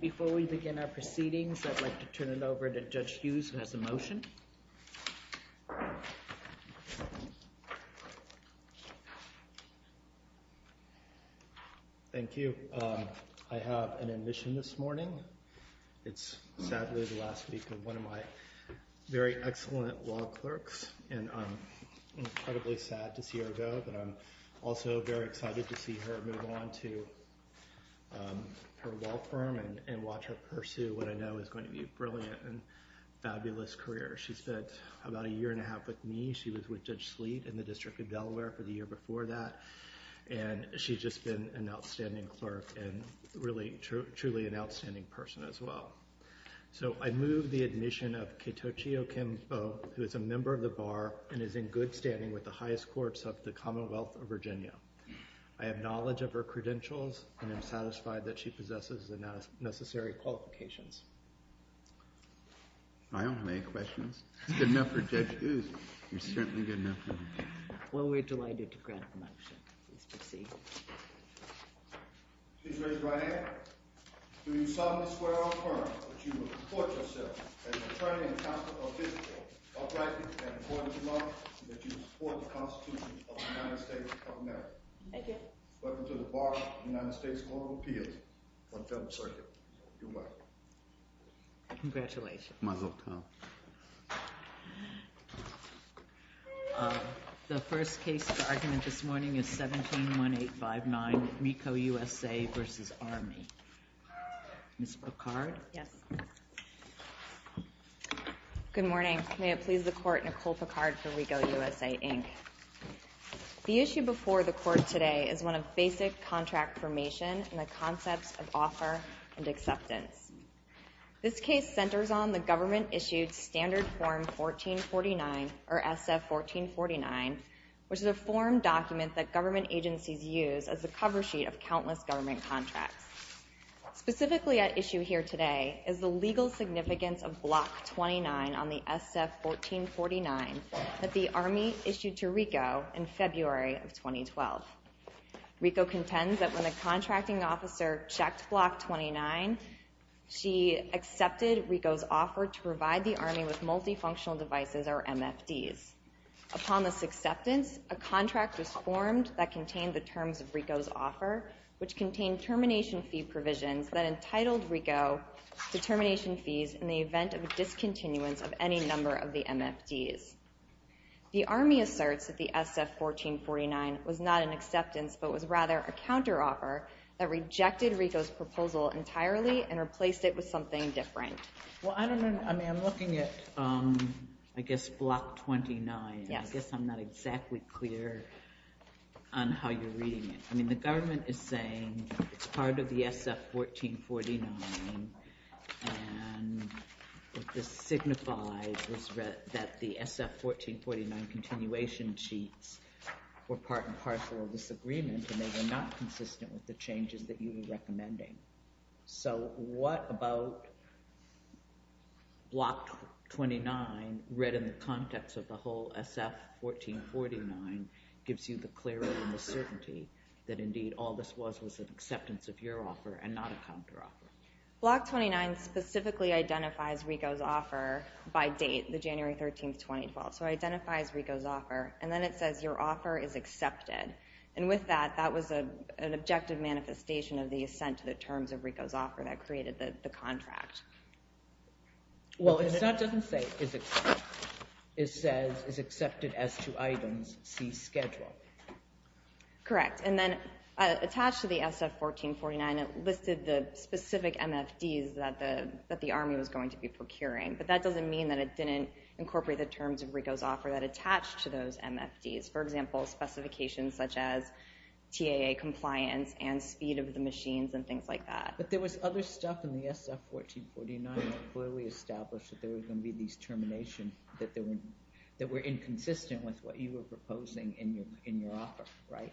Before we begin our proceedings, I'd like to turn it over to Judge Hughes who has a motion. Thank you. I have an admission this morning. It's sadly the last week of one of my very excellent law clerks, and I'm incredibly sad to see her go, but I'm also very excited to see her move on to her law firm and watch her pursue what I know is going to be a brilliant and fabulous career. She spent about a year and a half with me. She was with Judge Sleet in the District of Delaware for the year before that, and she's just been an outstanding clerk and really truly an outstanding person as well. So I move the admission of Ketochie Okimbo, who is a member of the Bar and is in good standing with the highest courts of the Commonwealth of Virginia. I have knowledge of her credentials and am satisfied that she possesses the necessary qualifications. I don't have any questions. It's good enough for Judge Hughes. It's certainly good enough for me. Well, we're delighted to grant the motion. Please proceed. Judge Ryan, do you solemnly swear or affirm that you will support yourself as attorney and counsel of this court, uprightly and according to law, and that you will support the Constitution of the United States of America? I do. Welcome to the Bar of the United States Court of Appeals on Federal Circuit. You may be seated. Congratulations. Mazel tov. The first case of argument this morning is 17-1859, MECO USA v. Army. Ms. Picard? Yes. Good morning. May it please the Court, Nicole Picard for RECO USA, Inc. The issue before the Court today is one of basic contract formation and the concepts of offer and acceptance. This case centers on the government-issued Standard Form 1449, or SF-1449, which is a form document that government agencies use as a cover sheet of countless government contracts. Specifically at issue here today is the legal significance of Block 29 on the SF-1449 that the Army issued to RECO in February of 2012. RECO contends that when a contracting officer checked Block 29, she accepted RECO's offer to provide the Army with multifunctional devices, or MFDs. Upon this acceptance, a contract was formed that contained the terms of RECO's offer, which contained termination fee provisions that entitled RECO to termination fees in the event of a discontinuance of any number of the MFDs. The Army asserts that the SF-1449 was not an acceptance, but was rather a counteroffer that rejected RECO's proposal entirely and replaced it with something different. Well, I don't know. I mean, I'm looking at, I guess, Block 29. I guess I'm not exactly clear on how you're reading it. I mean, the government is saying it's part of the SF-1449, and what this signifies is that the SF-1449 continuation sheets were part and parcel of this agreement, and they were not consistent with the changes that you were recommending. So what about Block 29, read in the context of the whole SF-1449, gives you the clarity and the certainty that indeed all this was was an acceptance of your offer and not a counteroffer? Block 29 specifically identifies RECO's offer by date, the January 13, 2012. So it identifies RECO's offer, and then it says your offer is accepted. And with that, that was an objective manifestation of the assent to the terms of RECO's offer that created the contract. Well, it doesn't say it's accepted. It says it's accepted as to items C, schedule. Correct. And then attached to the SF-1449, it listed the specific MFDs that the Army was going to be procuring, but that doesn't mean that it didn't incorporate the terms of RECO's offer that attached to those MFDs. For example, specifications such as TAA compliance and speed of the machines and things like that. But there was other stuff in the SF-1449 that clearly established that there were going to be these terminations that were inconsistent with what you were proposing in your offer, right?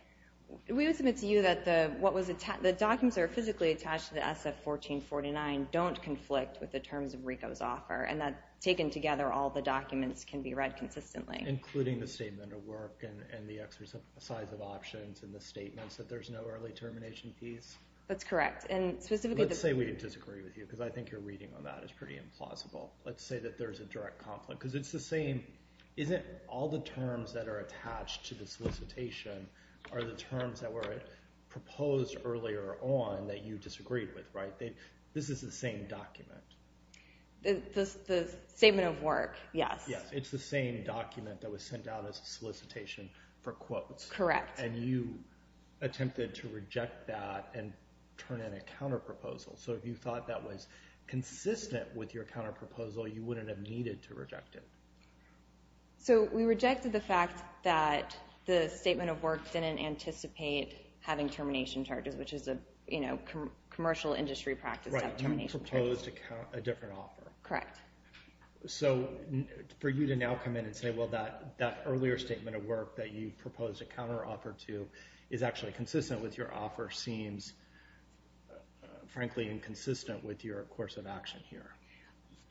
We would submit to you that the documents that are physically attached to the SF-1449 don't conflict with the terms of RECO's offer, and that taken together, all the documents can be read consistently. Including the statement of work and the exercise of options and the statements that there's no early termination piece? That's correct. And specifically... Let's say we disagree with you, because I think your reading on that is pretty implausible. Let's say that there's a direct conflict, because it's the same... Isn't all the terms that are attached to the solicitation are the terms that were proposed earlier on that you disagreed with, right? This is the same document. The statement of work, yes. It's the same document that was sent out as a solicitation for quotes. Correct. And you attempted to reject that and turn in a counterproposal. So if you thought that was consistent with your counterproposal, you wouldn't have needed to reject it. So we rejected the fact that the statement of work didn't anticipate having termination charges, which is a commercial industry practice to have termination charges. Right, and you proposed a different offer. Correct. So for you to now come in and say, well, that earlier statement of work that you proposed a counteroffer to is actually consistent with your offer seems, frankly, inconsistent with your course of action here.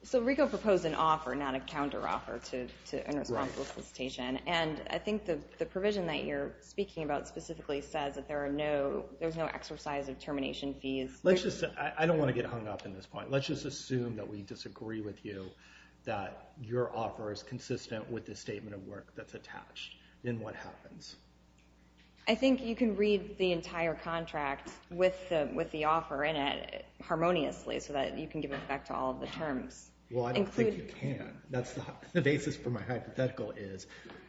So RICO proposed an offer, not a counteroffer to an irresponsible solicitation. And I think the provision that you're speaking about specifically says that there's no exercise of termination fees. I don't want to get hung up on this point. But let's just assume that we disagree with you, that your offer is consistent with the statement of work that's attached. Then what happens? I think you can read the entire contract with the offer in it harmoniously so that you can give it back to all of the terms. Well, I don't think you can. The basis for my hypothetical is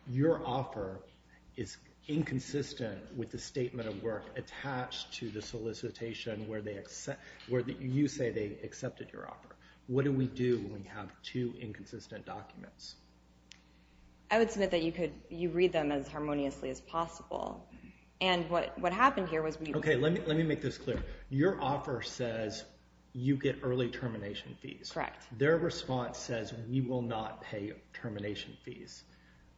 your offer is inconsistent with the statement of work attached to the solicitation where you say they accepted your offer. What do we do when we have two inconsistent documents? I would submit that you read them as harmoniously as possible. And what happened here was we... Okay, let me make this clear. Your offer says you get early termination fees. Correct. Their response says we will not pay termination fees.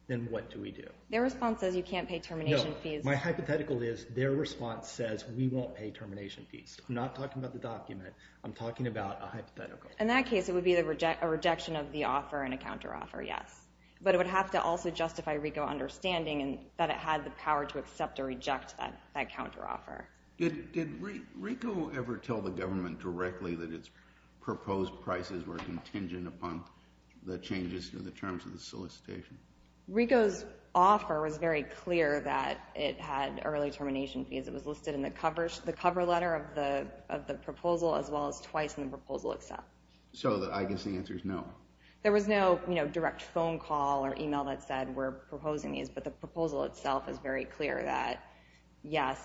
Then what do we do? Their response says you can't pay termination fees. My hypothetical is their response says we won't pay termination fees. I'm not talking about the document. I'm talking about a hypothetical. In that case, it would be a rejection of the offer and a counteroffer, yes. But it would have to also justify RICO understanding that it had the power to accept or reject that counteroffer. Did RICO ever tell the government directly that its proposed prices were contingent upon the changes to the terms of the solicitation? RICO's offer was very clear that it had early termination fees. It was listed in the cover letter of the proposal as well as twice in the proposal itself. So I guess the answer is no. There was no direct phone call or email that said we're proposing these, but the proposal itself is very clear that, yes,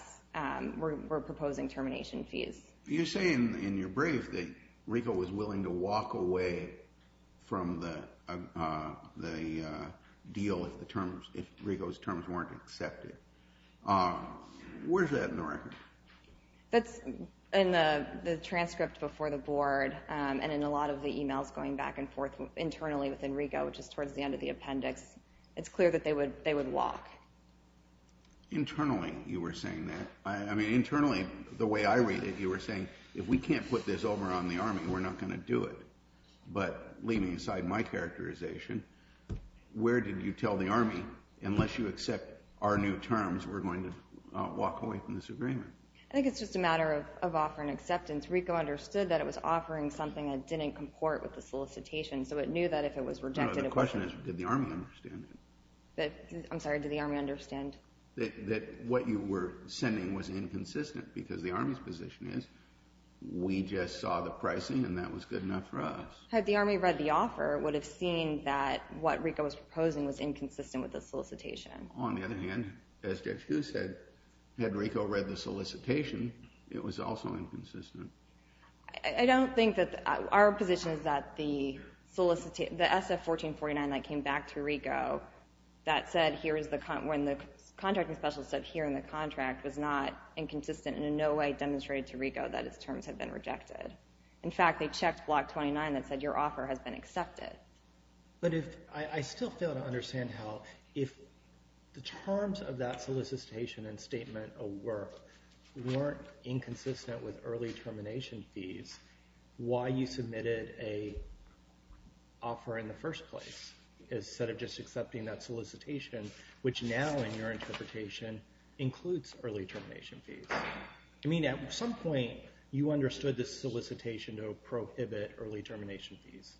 we're proposing termination fees. You say in your brief that RICO was willing to walk away from the deal if RICO's terms weren't accepted. Where's that in the record? That's in the transcript before the board and in a lot of the emails going back and forth internally within RICO, which is towards the end of the appendix. It's clear that they would walk. Internally you were saying that. Internally, the way I read it, you were saying, if we can't put this over on the Army, we're not going to do it. But leaving aside my characterization, where did you tell the Army, unless you accept our new terms, we're going to walk away from this agreement? I think it's just a matter of offer and acceptance. RICO understood that it was offering something that didn't comport with the solicitation, so it knew that if it was rejected it would be rejected. The question is did the Army understand it? I'm sorry, did the Army understand? That what you were sending was inconsistent because the Army's position is we just saw the pricing and that was good enough for us. Had the Army read the offer, it would have seen that what RICO was proposing was inconsistent with the solicitation. On the other hand, as Judge Kuh said, had RICO read the solicitation, it was also inconsistent. I don't think that... Our position is that the SF-1449 that came back through RICO that said when the contracting specialist said here in the contract was not inconsistent in no way demonstrated to RICO that its terms had been rejected. In fact, they checked Block 29 that said your offer has been accepted. But I still fail to understand how, if the terms of that solicitation and statement of work weren't inconsistent with early termination fees, why you submitted an offer in the first place instead of just accepting that solicitation, which now in your interpretation includes early termination fees. I mean, at some point you understood this solicitation to prohibit early termination fees.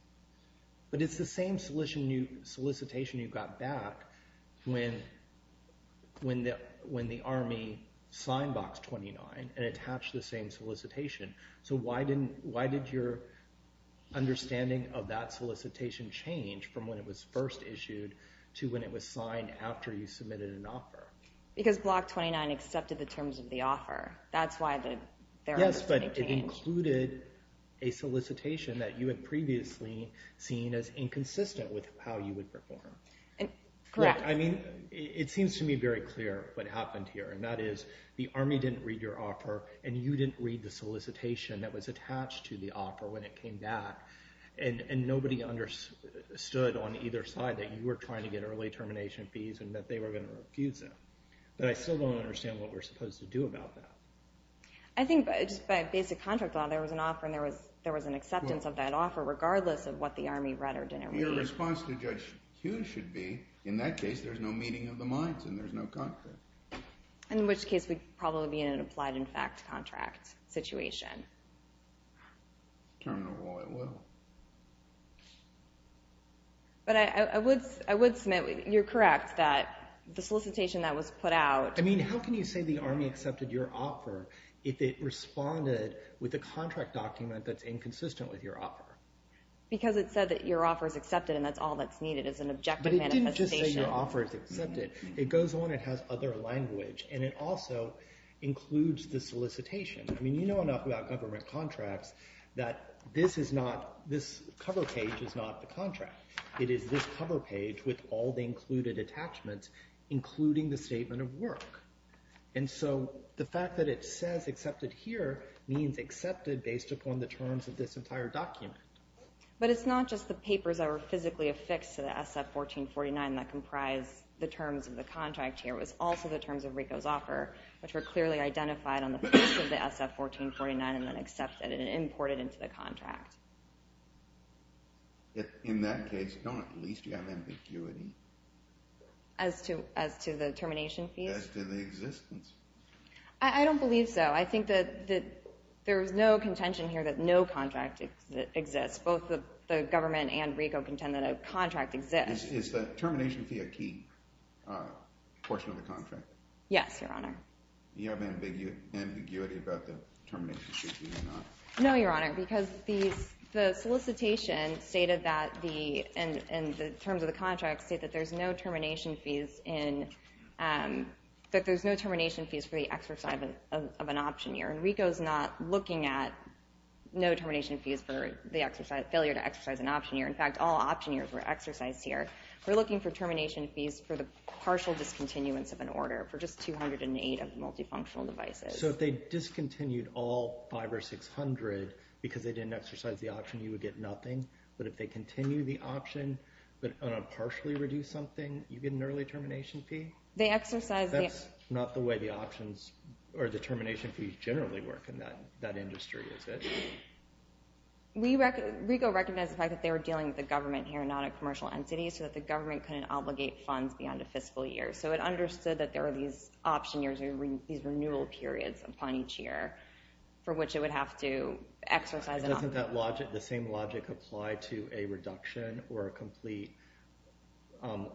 But it's the same solicitation you got back when the Army signed Block 29 and attached the same solicitation. So why did your understanding of that solicitation change from when it was first issued to when it was signed after you submitted an offer? Because Block 29 accepted the terms of the offer. That's why their understanding changed. Yes, but it included a solicitation that you had previously seen as inconsistent with how you would perform. Correct. I mean, it seems to me very clear what happened here, and that is the Army didn't read your offer and you didn't read the solicitation that was attached to the offer when it came back, and nobody understood on either side that you were trying to get early termination fees and that they were going to refuse them. But I still don't understand what we're supposed to do about that. I think just by basic contract law there was an offer and there was an acceptance of that offer regardless of what the Army read or didn't read. Your response to Judge Hughes should be, in that case there's no meeting of the minds and there's no contract. In which case we'd probably be in an applied-in-fact contract situation. Terminal law at will. But I would submit you're correct that the solicitation that was put out... I mean, how can you say the Army accepted your offer if it responded with a contract document that's inconsistent with your offer? Because it said that your offer is accepted and that's all that's needed is an objective manifestation. But it didn't just say your offer is accepted. It goes on, it has other language, and it also includes the solicitation. I mean, you know enough about government contracts that this cover page is not the contract. It is this cover page with all the included attachments including the statement of work. And so the fact that it says accepted here means accepted based upon the terms of this entire document. But it's not just the papers that were physically affixed to the SF-1449 that comprise the terms of the contract here. It was also the terms of RICO's offer which were clearly identified on the back of the SF-1449 and then accepted and imported into the contract. In that case, don't at least you have ambiguity? As to the termination fee? As to the existence? I don't believe so. I think that there is no contention here that no contract exists. Both the government and RICO contend that a contract exists. Is the termination fee a key portion of the contract? Yes, Your Honor. Do you have ambiguity about the termination fee or not? No, Your Honor. Because the solicitation stated that the terms of the contract state that there's no termination fees for the exercise of an option year. And RICO's not looking at no termination fees for the failure to exercise an option year. In fact, all option years were exercised here. We're looking for termination fees for the partial discontinuance of an order for just 208 of the multifunctional devices. So if they discontinued all 500 or 600 because they didn't exercise the option, you would get nothing? But if they continue the option but on a partially reduced something, you get an early termination fee? That's not the way the options or the termination fees generally work in that industry, is it? RICO recognized the fact that they were dealing with the government here and not a commercial entity, so that the government couldn't obligate funds beyond a fiscal year. So it understood that there are these option years or these renewal periods upon each year for which it would have to exercise an option. Doesn't the same logic apply to a reduction or a complete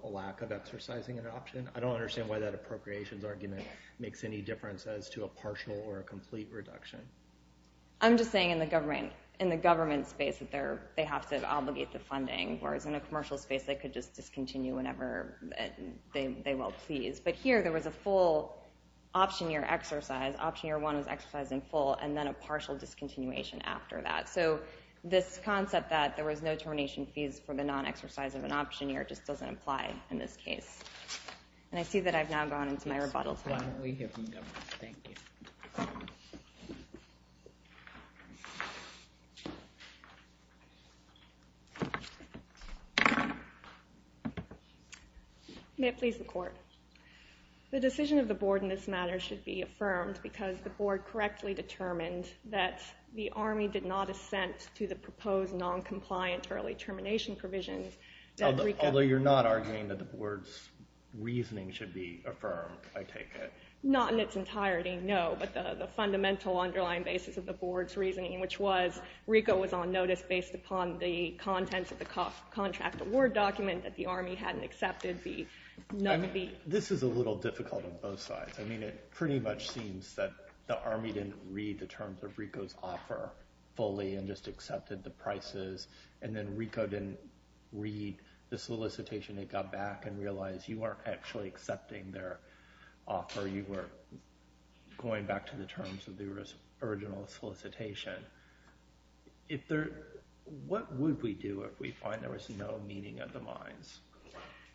lack of exercising an option? I don't understand why that appropriations argument makes any difference as to a partial or a complete reduction. I'm just saying in the government space that they have to obligate the funding, whereas in a commercial space they could just discontinue whenever they will please. But here there was a full option year exercise. Option year one was exercised in full and then a partial discontinuation after that. So this concept that there was no termination fees for the non-exercise of an option year just doesn't apply in this case. And I see that I've now gone into my rebuttal. Why don't we hear from the government? Thank you. May it please the court. The decision of the board in this matter should be affirmed because the board correctly determined that the Army did not assent to the proposed non-compliant early termination provisions. Although you're not arguing that the board's reasoning should be affirmed, I take it. Not in its entirety, no. But the fundamental underlying basis of the board's reasoning, which was RICO was on notice based upon the contents of the contract award document that the Army hadn't accepted the... This is a little difficult on both sides. I mean, it pretty much seems that the Army didn't read the terms of RICO's offer fully and just accepted the prices. And then RICO didn't read the solicitation. It got back and realized you weren't actually accepting their offer. You were going back to the terms of the original solicitation. What would we do if we find there was no meaning of the mines?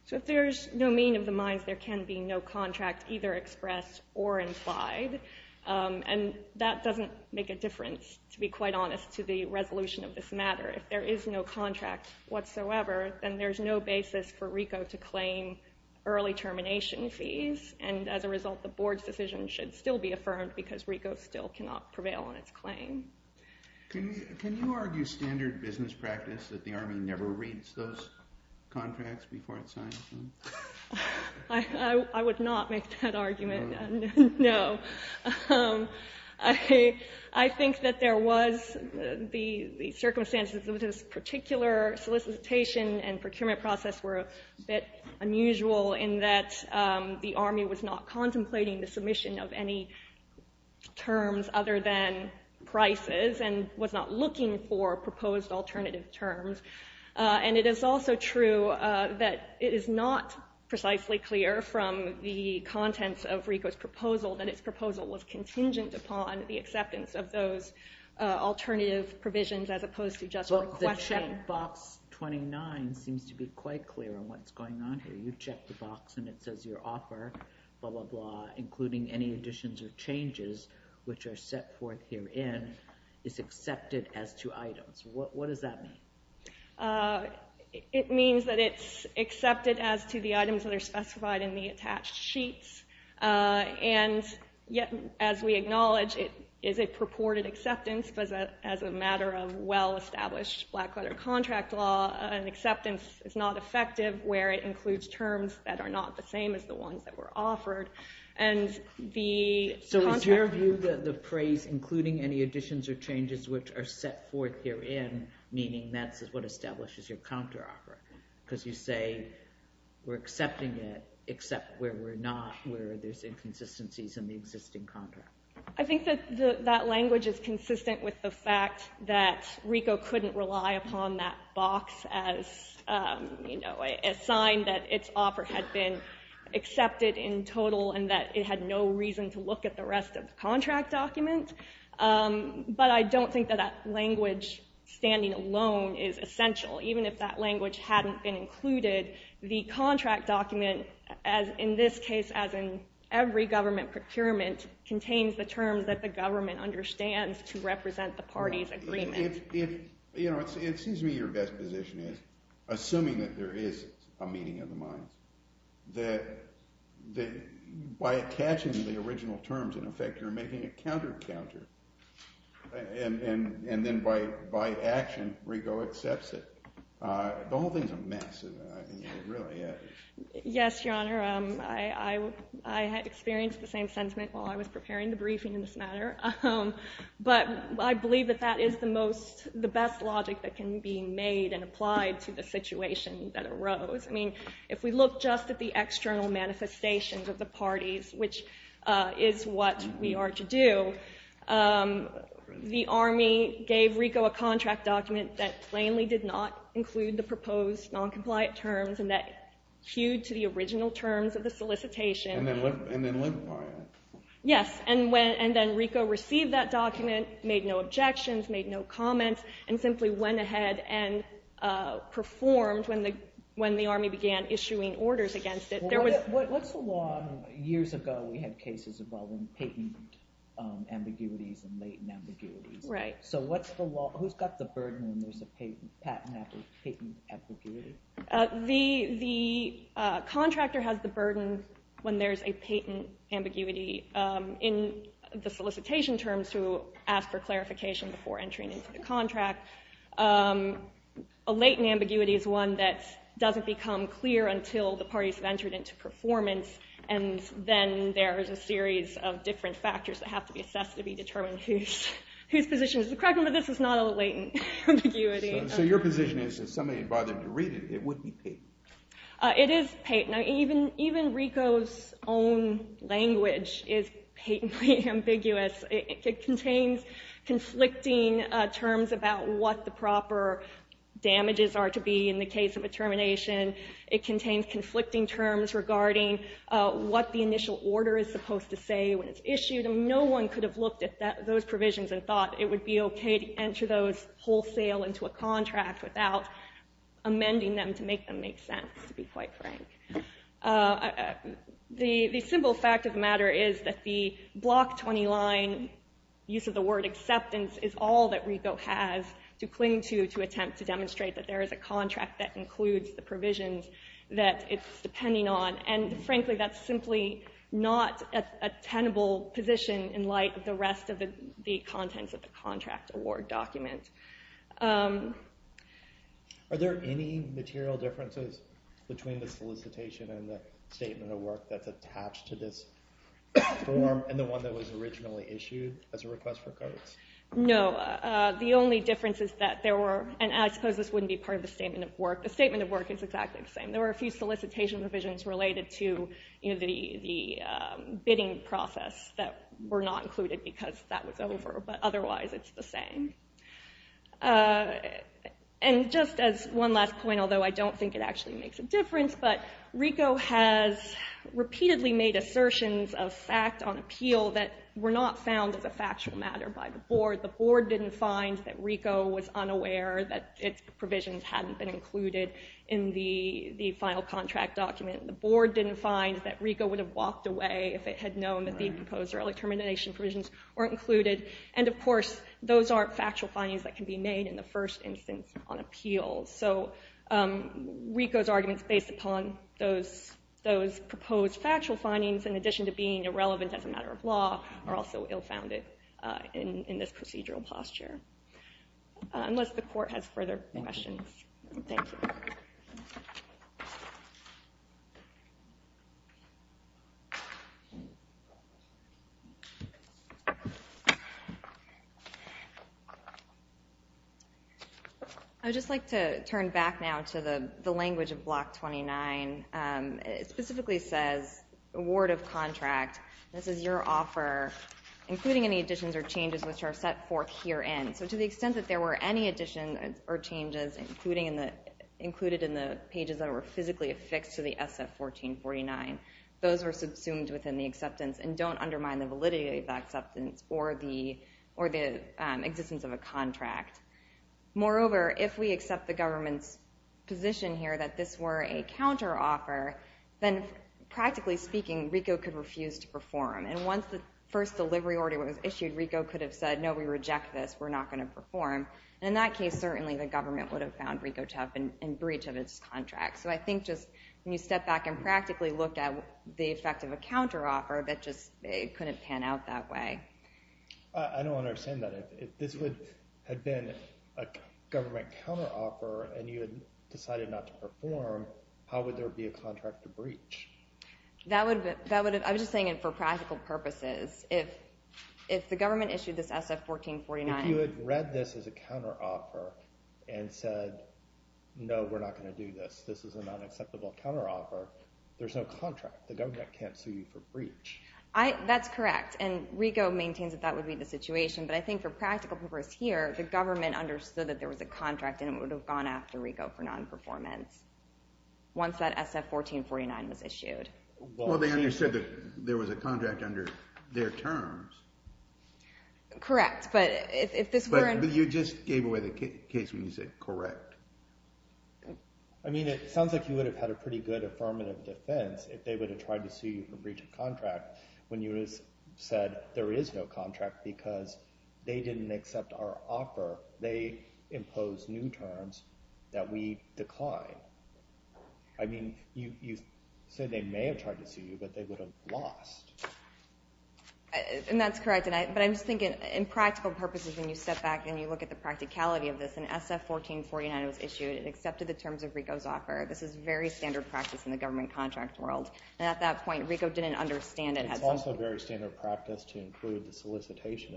So if there's no meaning of the mines, there can be no contract either expressed or implied. And that doesn't make a difference, to be quite honest, to the resolution of this matter. If there is no contract whatsoever, then there's no basis for RICO to claim early termination fees. And as a result, the board's decision should still be affirmed because RICO still cannot prevail on its claim. Can you argue standard business practice that the Army never reads those contracts before it signs them? I would not make that argument, no. I think that there was the circumstances of this particular solicitation and procurement process were a bit unusual in that the Army was not contemplating the submission of any terms other than prices and was not looking for proposed alternative terms. And it is also true that it is not precisely clear from the contents of RICO's proposal that its proposal was contingent upon the acceptance of those alternative provisions as opposed to just one question. But the box 29 seems to be quite clear on what's going on here. You check the box and it says your offer, blah, blah, blah, including any additions or changes which are set forth herein, is accepted as to items. What does that mean? It means that it's accepted as to the items that are specified in the attached sheets. And yet, as we acknowledge, it is a purported acceptance as a matter of well-established black-letter contract law. An acceptance is not effective where it includes terms that are not the same as the ones that were offered. So is your view that the phrase including any additions or changes which are set forth herein, meaning that's what establishes your counteroffer, because you say we're accepting it except where we're not, where there's inconsistencies in the existing contract. I think that that language is consistent with the fact that RICO couldn't rely upon that box as a sign that its offer had been accepted in total and that it had no reason to look at the rest of the contract document. But I don't think that that language standing alone is essential. Even if that language hadn't been included, the contract document, in this case, as in every government procurement, contains the terms that the government understands to represent the party's agreement. It seems to me your best position is, assuming that there is a meeting of the minds, that by attaching the original terms, in effect, you're making a counter-counter, and then by action RICO accepts it. The whole thing's a mess, really. Yes, Your Honor. I had experienced the same sentiment while I was preparing the briefing in this matter. But I believe that that is the best logic that can be made and applied to the situation that arose. If we look just at the external manifestations of the parties, which is what we are to do, the Army gave RICO a contract document that plainly did not include the proposed noncompliant terms and that hewed to the original terms of the solicitation. And then lived by it. Yes, and then RICO received that document, made no objections, made no comments, and simply went ahead and performed when the Army began issuing orders against it. What's the law? Years ago we had cases involving patent ambiguities and latent ambiguities. So who's got the burden when there's a patent ambiguity? The contractor has the burden when there's a patent ambiguity. In the solicitation terms, to ask for clarification before entering into the contract, a latent ambiguity is one that doesn't become clear until the parties have entered into performance, and then there is a series of different factors that have to be assessed to be determined whose position is correct. But this is not a latent ambiguity. So your position is, if somebody bothered to read it, it would be patent. It is patent. Even RICO's own language is patently ambiguous. It contains conflicting terms about what the proper damages are to be in the case of a termination. It contains conflicting terms regarding what the initial order is supposed to say when it's issued. No one could have looked at those provisions and thought it would be okay to enter those wholesale into a contract without amending them to make them make sense, to be quite frank. The simple fact of the matter is that the Block 20 line use of the word acceptance is all that RICO has to cling to to attempt to demonstrate that there is a contract that includes the provisions that it's depending on. And frankly, that's simply not a tenable position in light of the rest of the contents of the contract award document. Are there any material differences between the solicitation and the statement of work that's attached to this form and the one that was originally issued as a request for codes? No. The only difference is that there were... And I suppose this wouldn't be part of the statement of work. The statement of work is exactly the same. There were a few solicitation provisions related to the bidding process that were not included because that was over, but otherwise it's the same. And just as one last point, although I don't think it actually makes a difference, but RICO has repeatedly made assertions of fact on appeal that were not found as a factual matter by the board. The board didn't find that RICO was unaware that its provisions hadn't been included in the final contract document. The board didn't find that RICO would have walked away if it had known that the proposed early termination provisions weren't included. And of course, those aren't factual findings that can be made in the first instance on appeal. So RICO's arguments based upon those proposed factual findings, in addition to being irrelevant as a matter of law, are also ill-founded in this procedural posture. Unless the court has further questions. Thank you. Thank you. I would just like to turn back now to the language of Block 29. It specifically says, award of contract. This is your offer, including any additions or changes which are set forth herein. So to the extent that there were any additions or changes included in the pages that were physically affixed to the SF-1449, those were subsumed within the acceptance and don't undermine the validity of that acceptance or the existence of a contract. Moreover, if we accept the government's position here that this were a counteroffer, then practically speaking, RICO could refuse to perform. And once the first delivery order was issued, RICO could have said, no, we reject this. We're not going to perform. And in that case, certainly the government would have found RICO to have been in breach of its contract. So I think just when you step back and practically look at the effect of a counteroffer, that just couldn't pan out that way. I don't understand that. If this had been a government counteroffer and you had decided not to perform, how would there be a contract to breach? I was just saying it for practical purposes. If the government issued this SF-1449... If you had read this as a counteroffer and said, no, we're not going to do this, this is an unacceptable counteroffer, there's no contract. The government can't sue you for breach. That's correct. And RICO maintains that that would be the situation. But I think for practical purposes here, the government understood that there was a contract and it would have gone after RICO for nonperformance once that SF-1449 was issued. Well, they understood that there was a contract under their terms. Correct, but if this were... But you just gave away the case when you said correct. I mean, it sounds like you would have had a pretty good affirmative defense if they would have tried to sue you for breach of contract when you said there is no contract because they didn't accept our offer. They imposed new terms that we declined. I mean, you said they may have tried to sue you, but they would have lost. And that's correct. But I'm just thinking in practical purposes, when you step back and you look at the practicality of this, and SF-1449 was issued and accepted the terms of RICO's offer, this is very standard practice in the government contract world. And at that point, RICO didn't understand it. It's also very standard practice to include the solicitation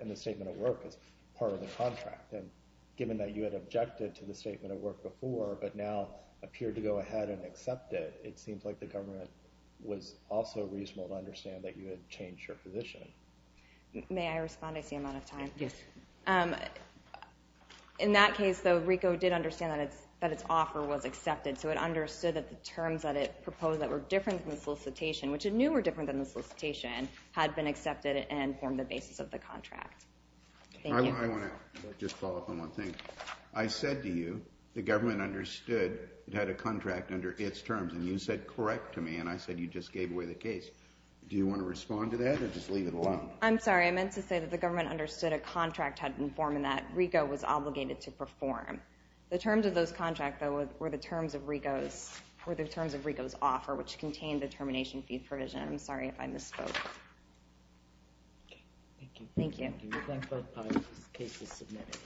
and the statement of work as part of the contract. And given that you had objected to the statement of work before but now appeared to go ahead and accept it, it seems like the government was also reasonable to understand that you had changed your position. May I respond? I see I'm out of time. Yes. In that case, though, RICO did understand that its offer was accepted, so it understood that the terms that it proposed that were different from the solicitation, which it knew were different than the solicitation, had been accepted and formed the basis of the contract. Thank you. I want to just follow up on one thing. I said to you the government understood it had a contract under its terms, and you said correct to me, and I said you just gave away the case. Do you want to respond to that or just leave it alone? I'm sorry. I meant to say that the government understood a contract had been formed and that RICO was obligated to perform. The terms of those contracts, though, were the terms of RICO's offer, which contained the termination fee provision. I'm sorry if I misspoke. Okay. Thank you. Thank you. Thank you. We thank both parties. This case is submitted.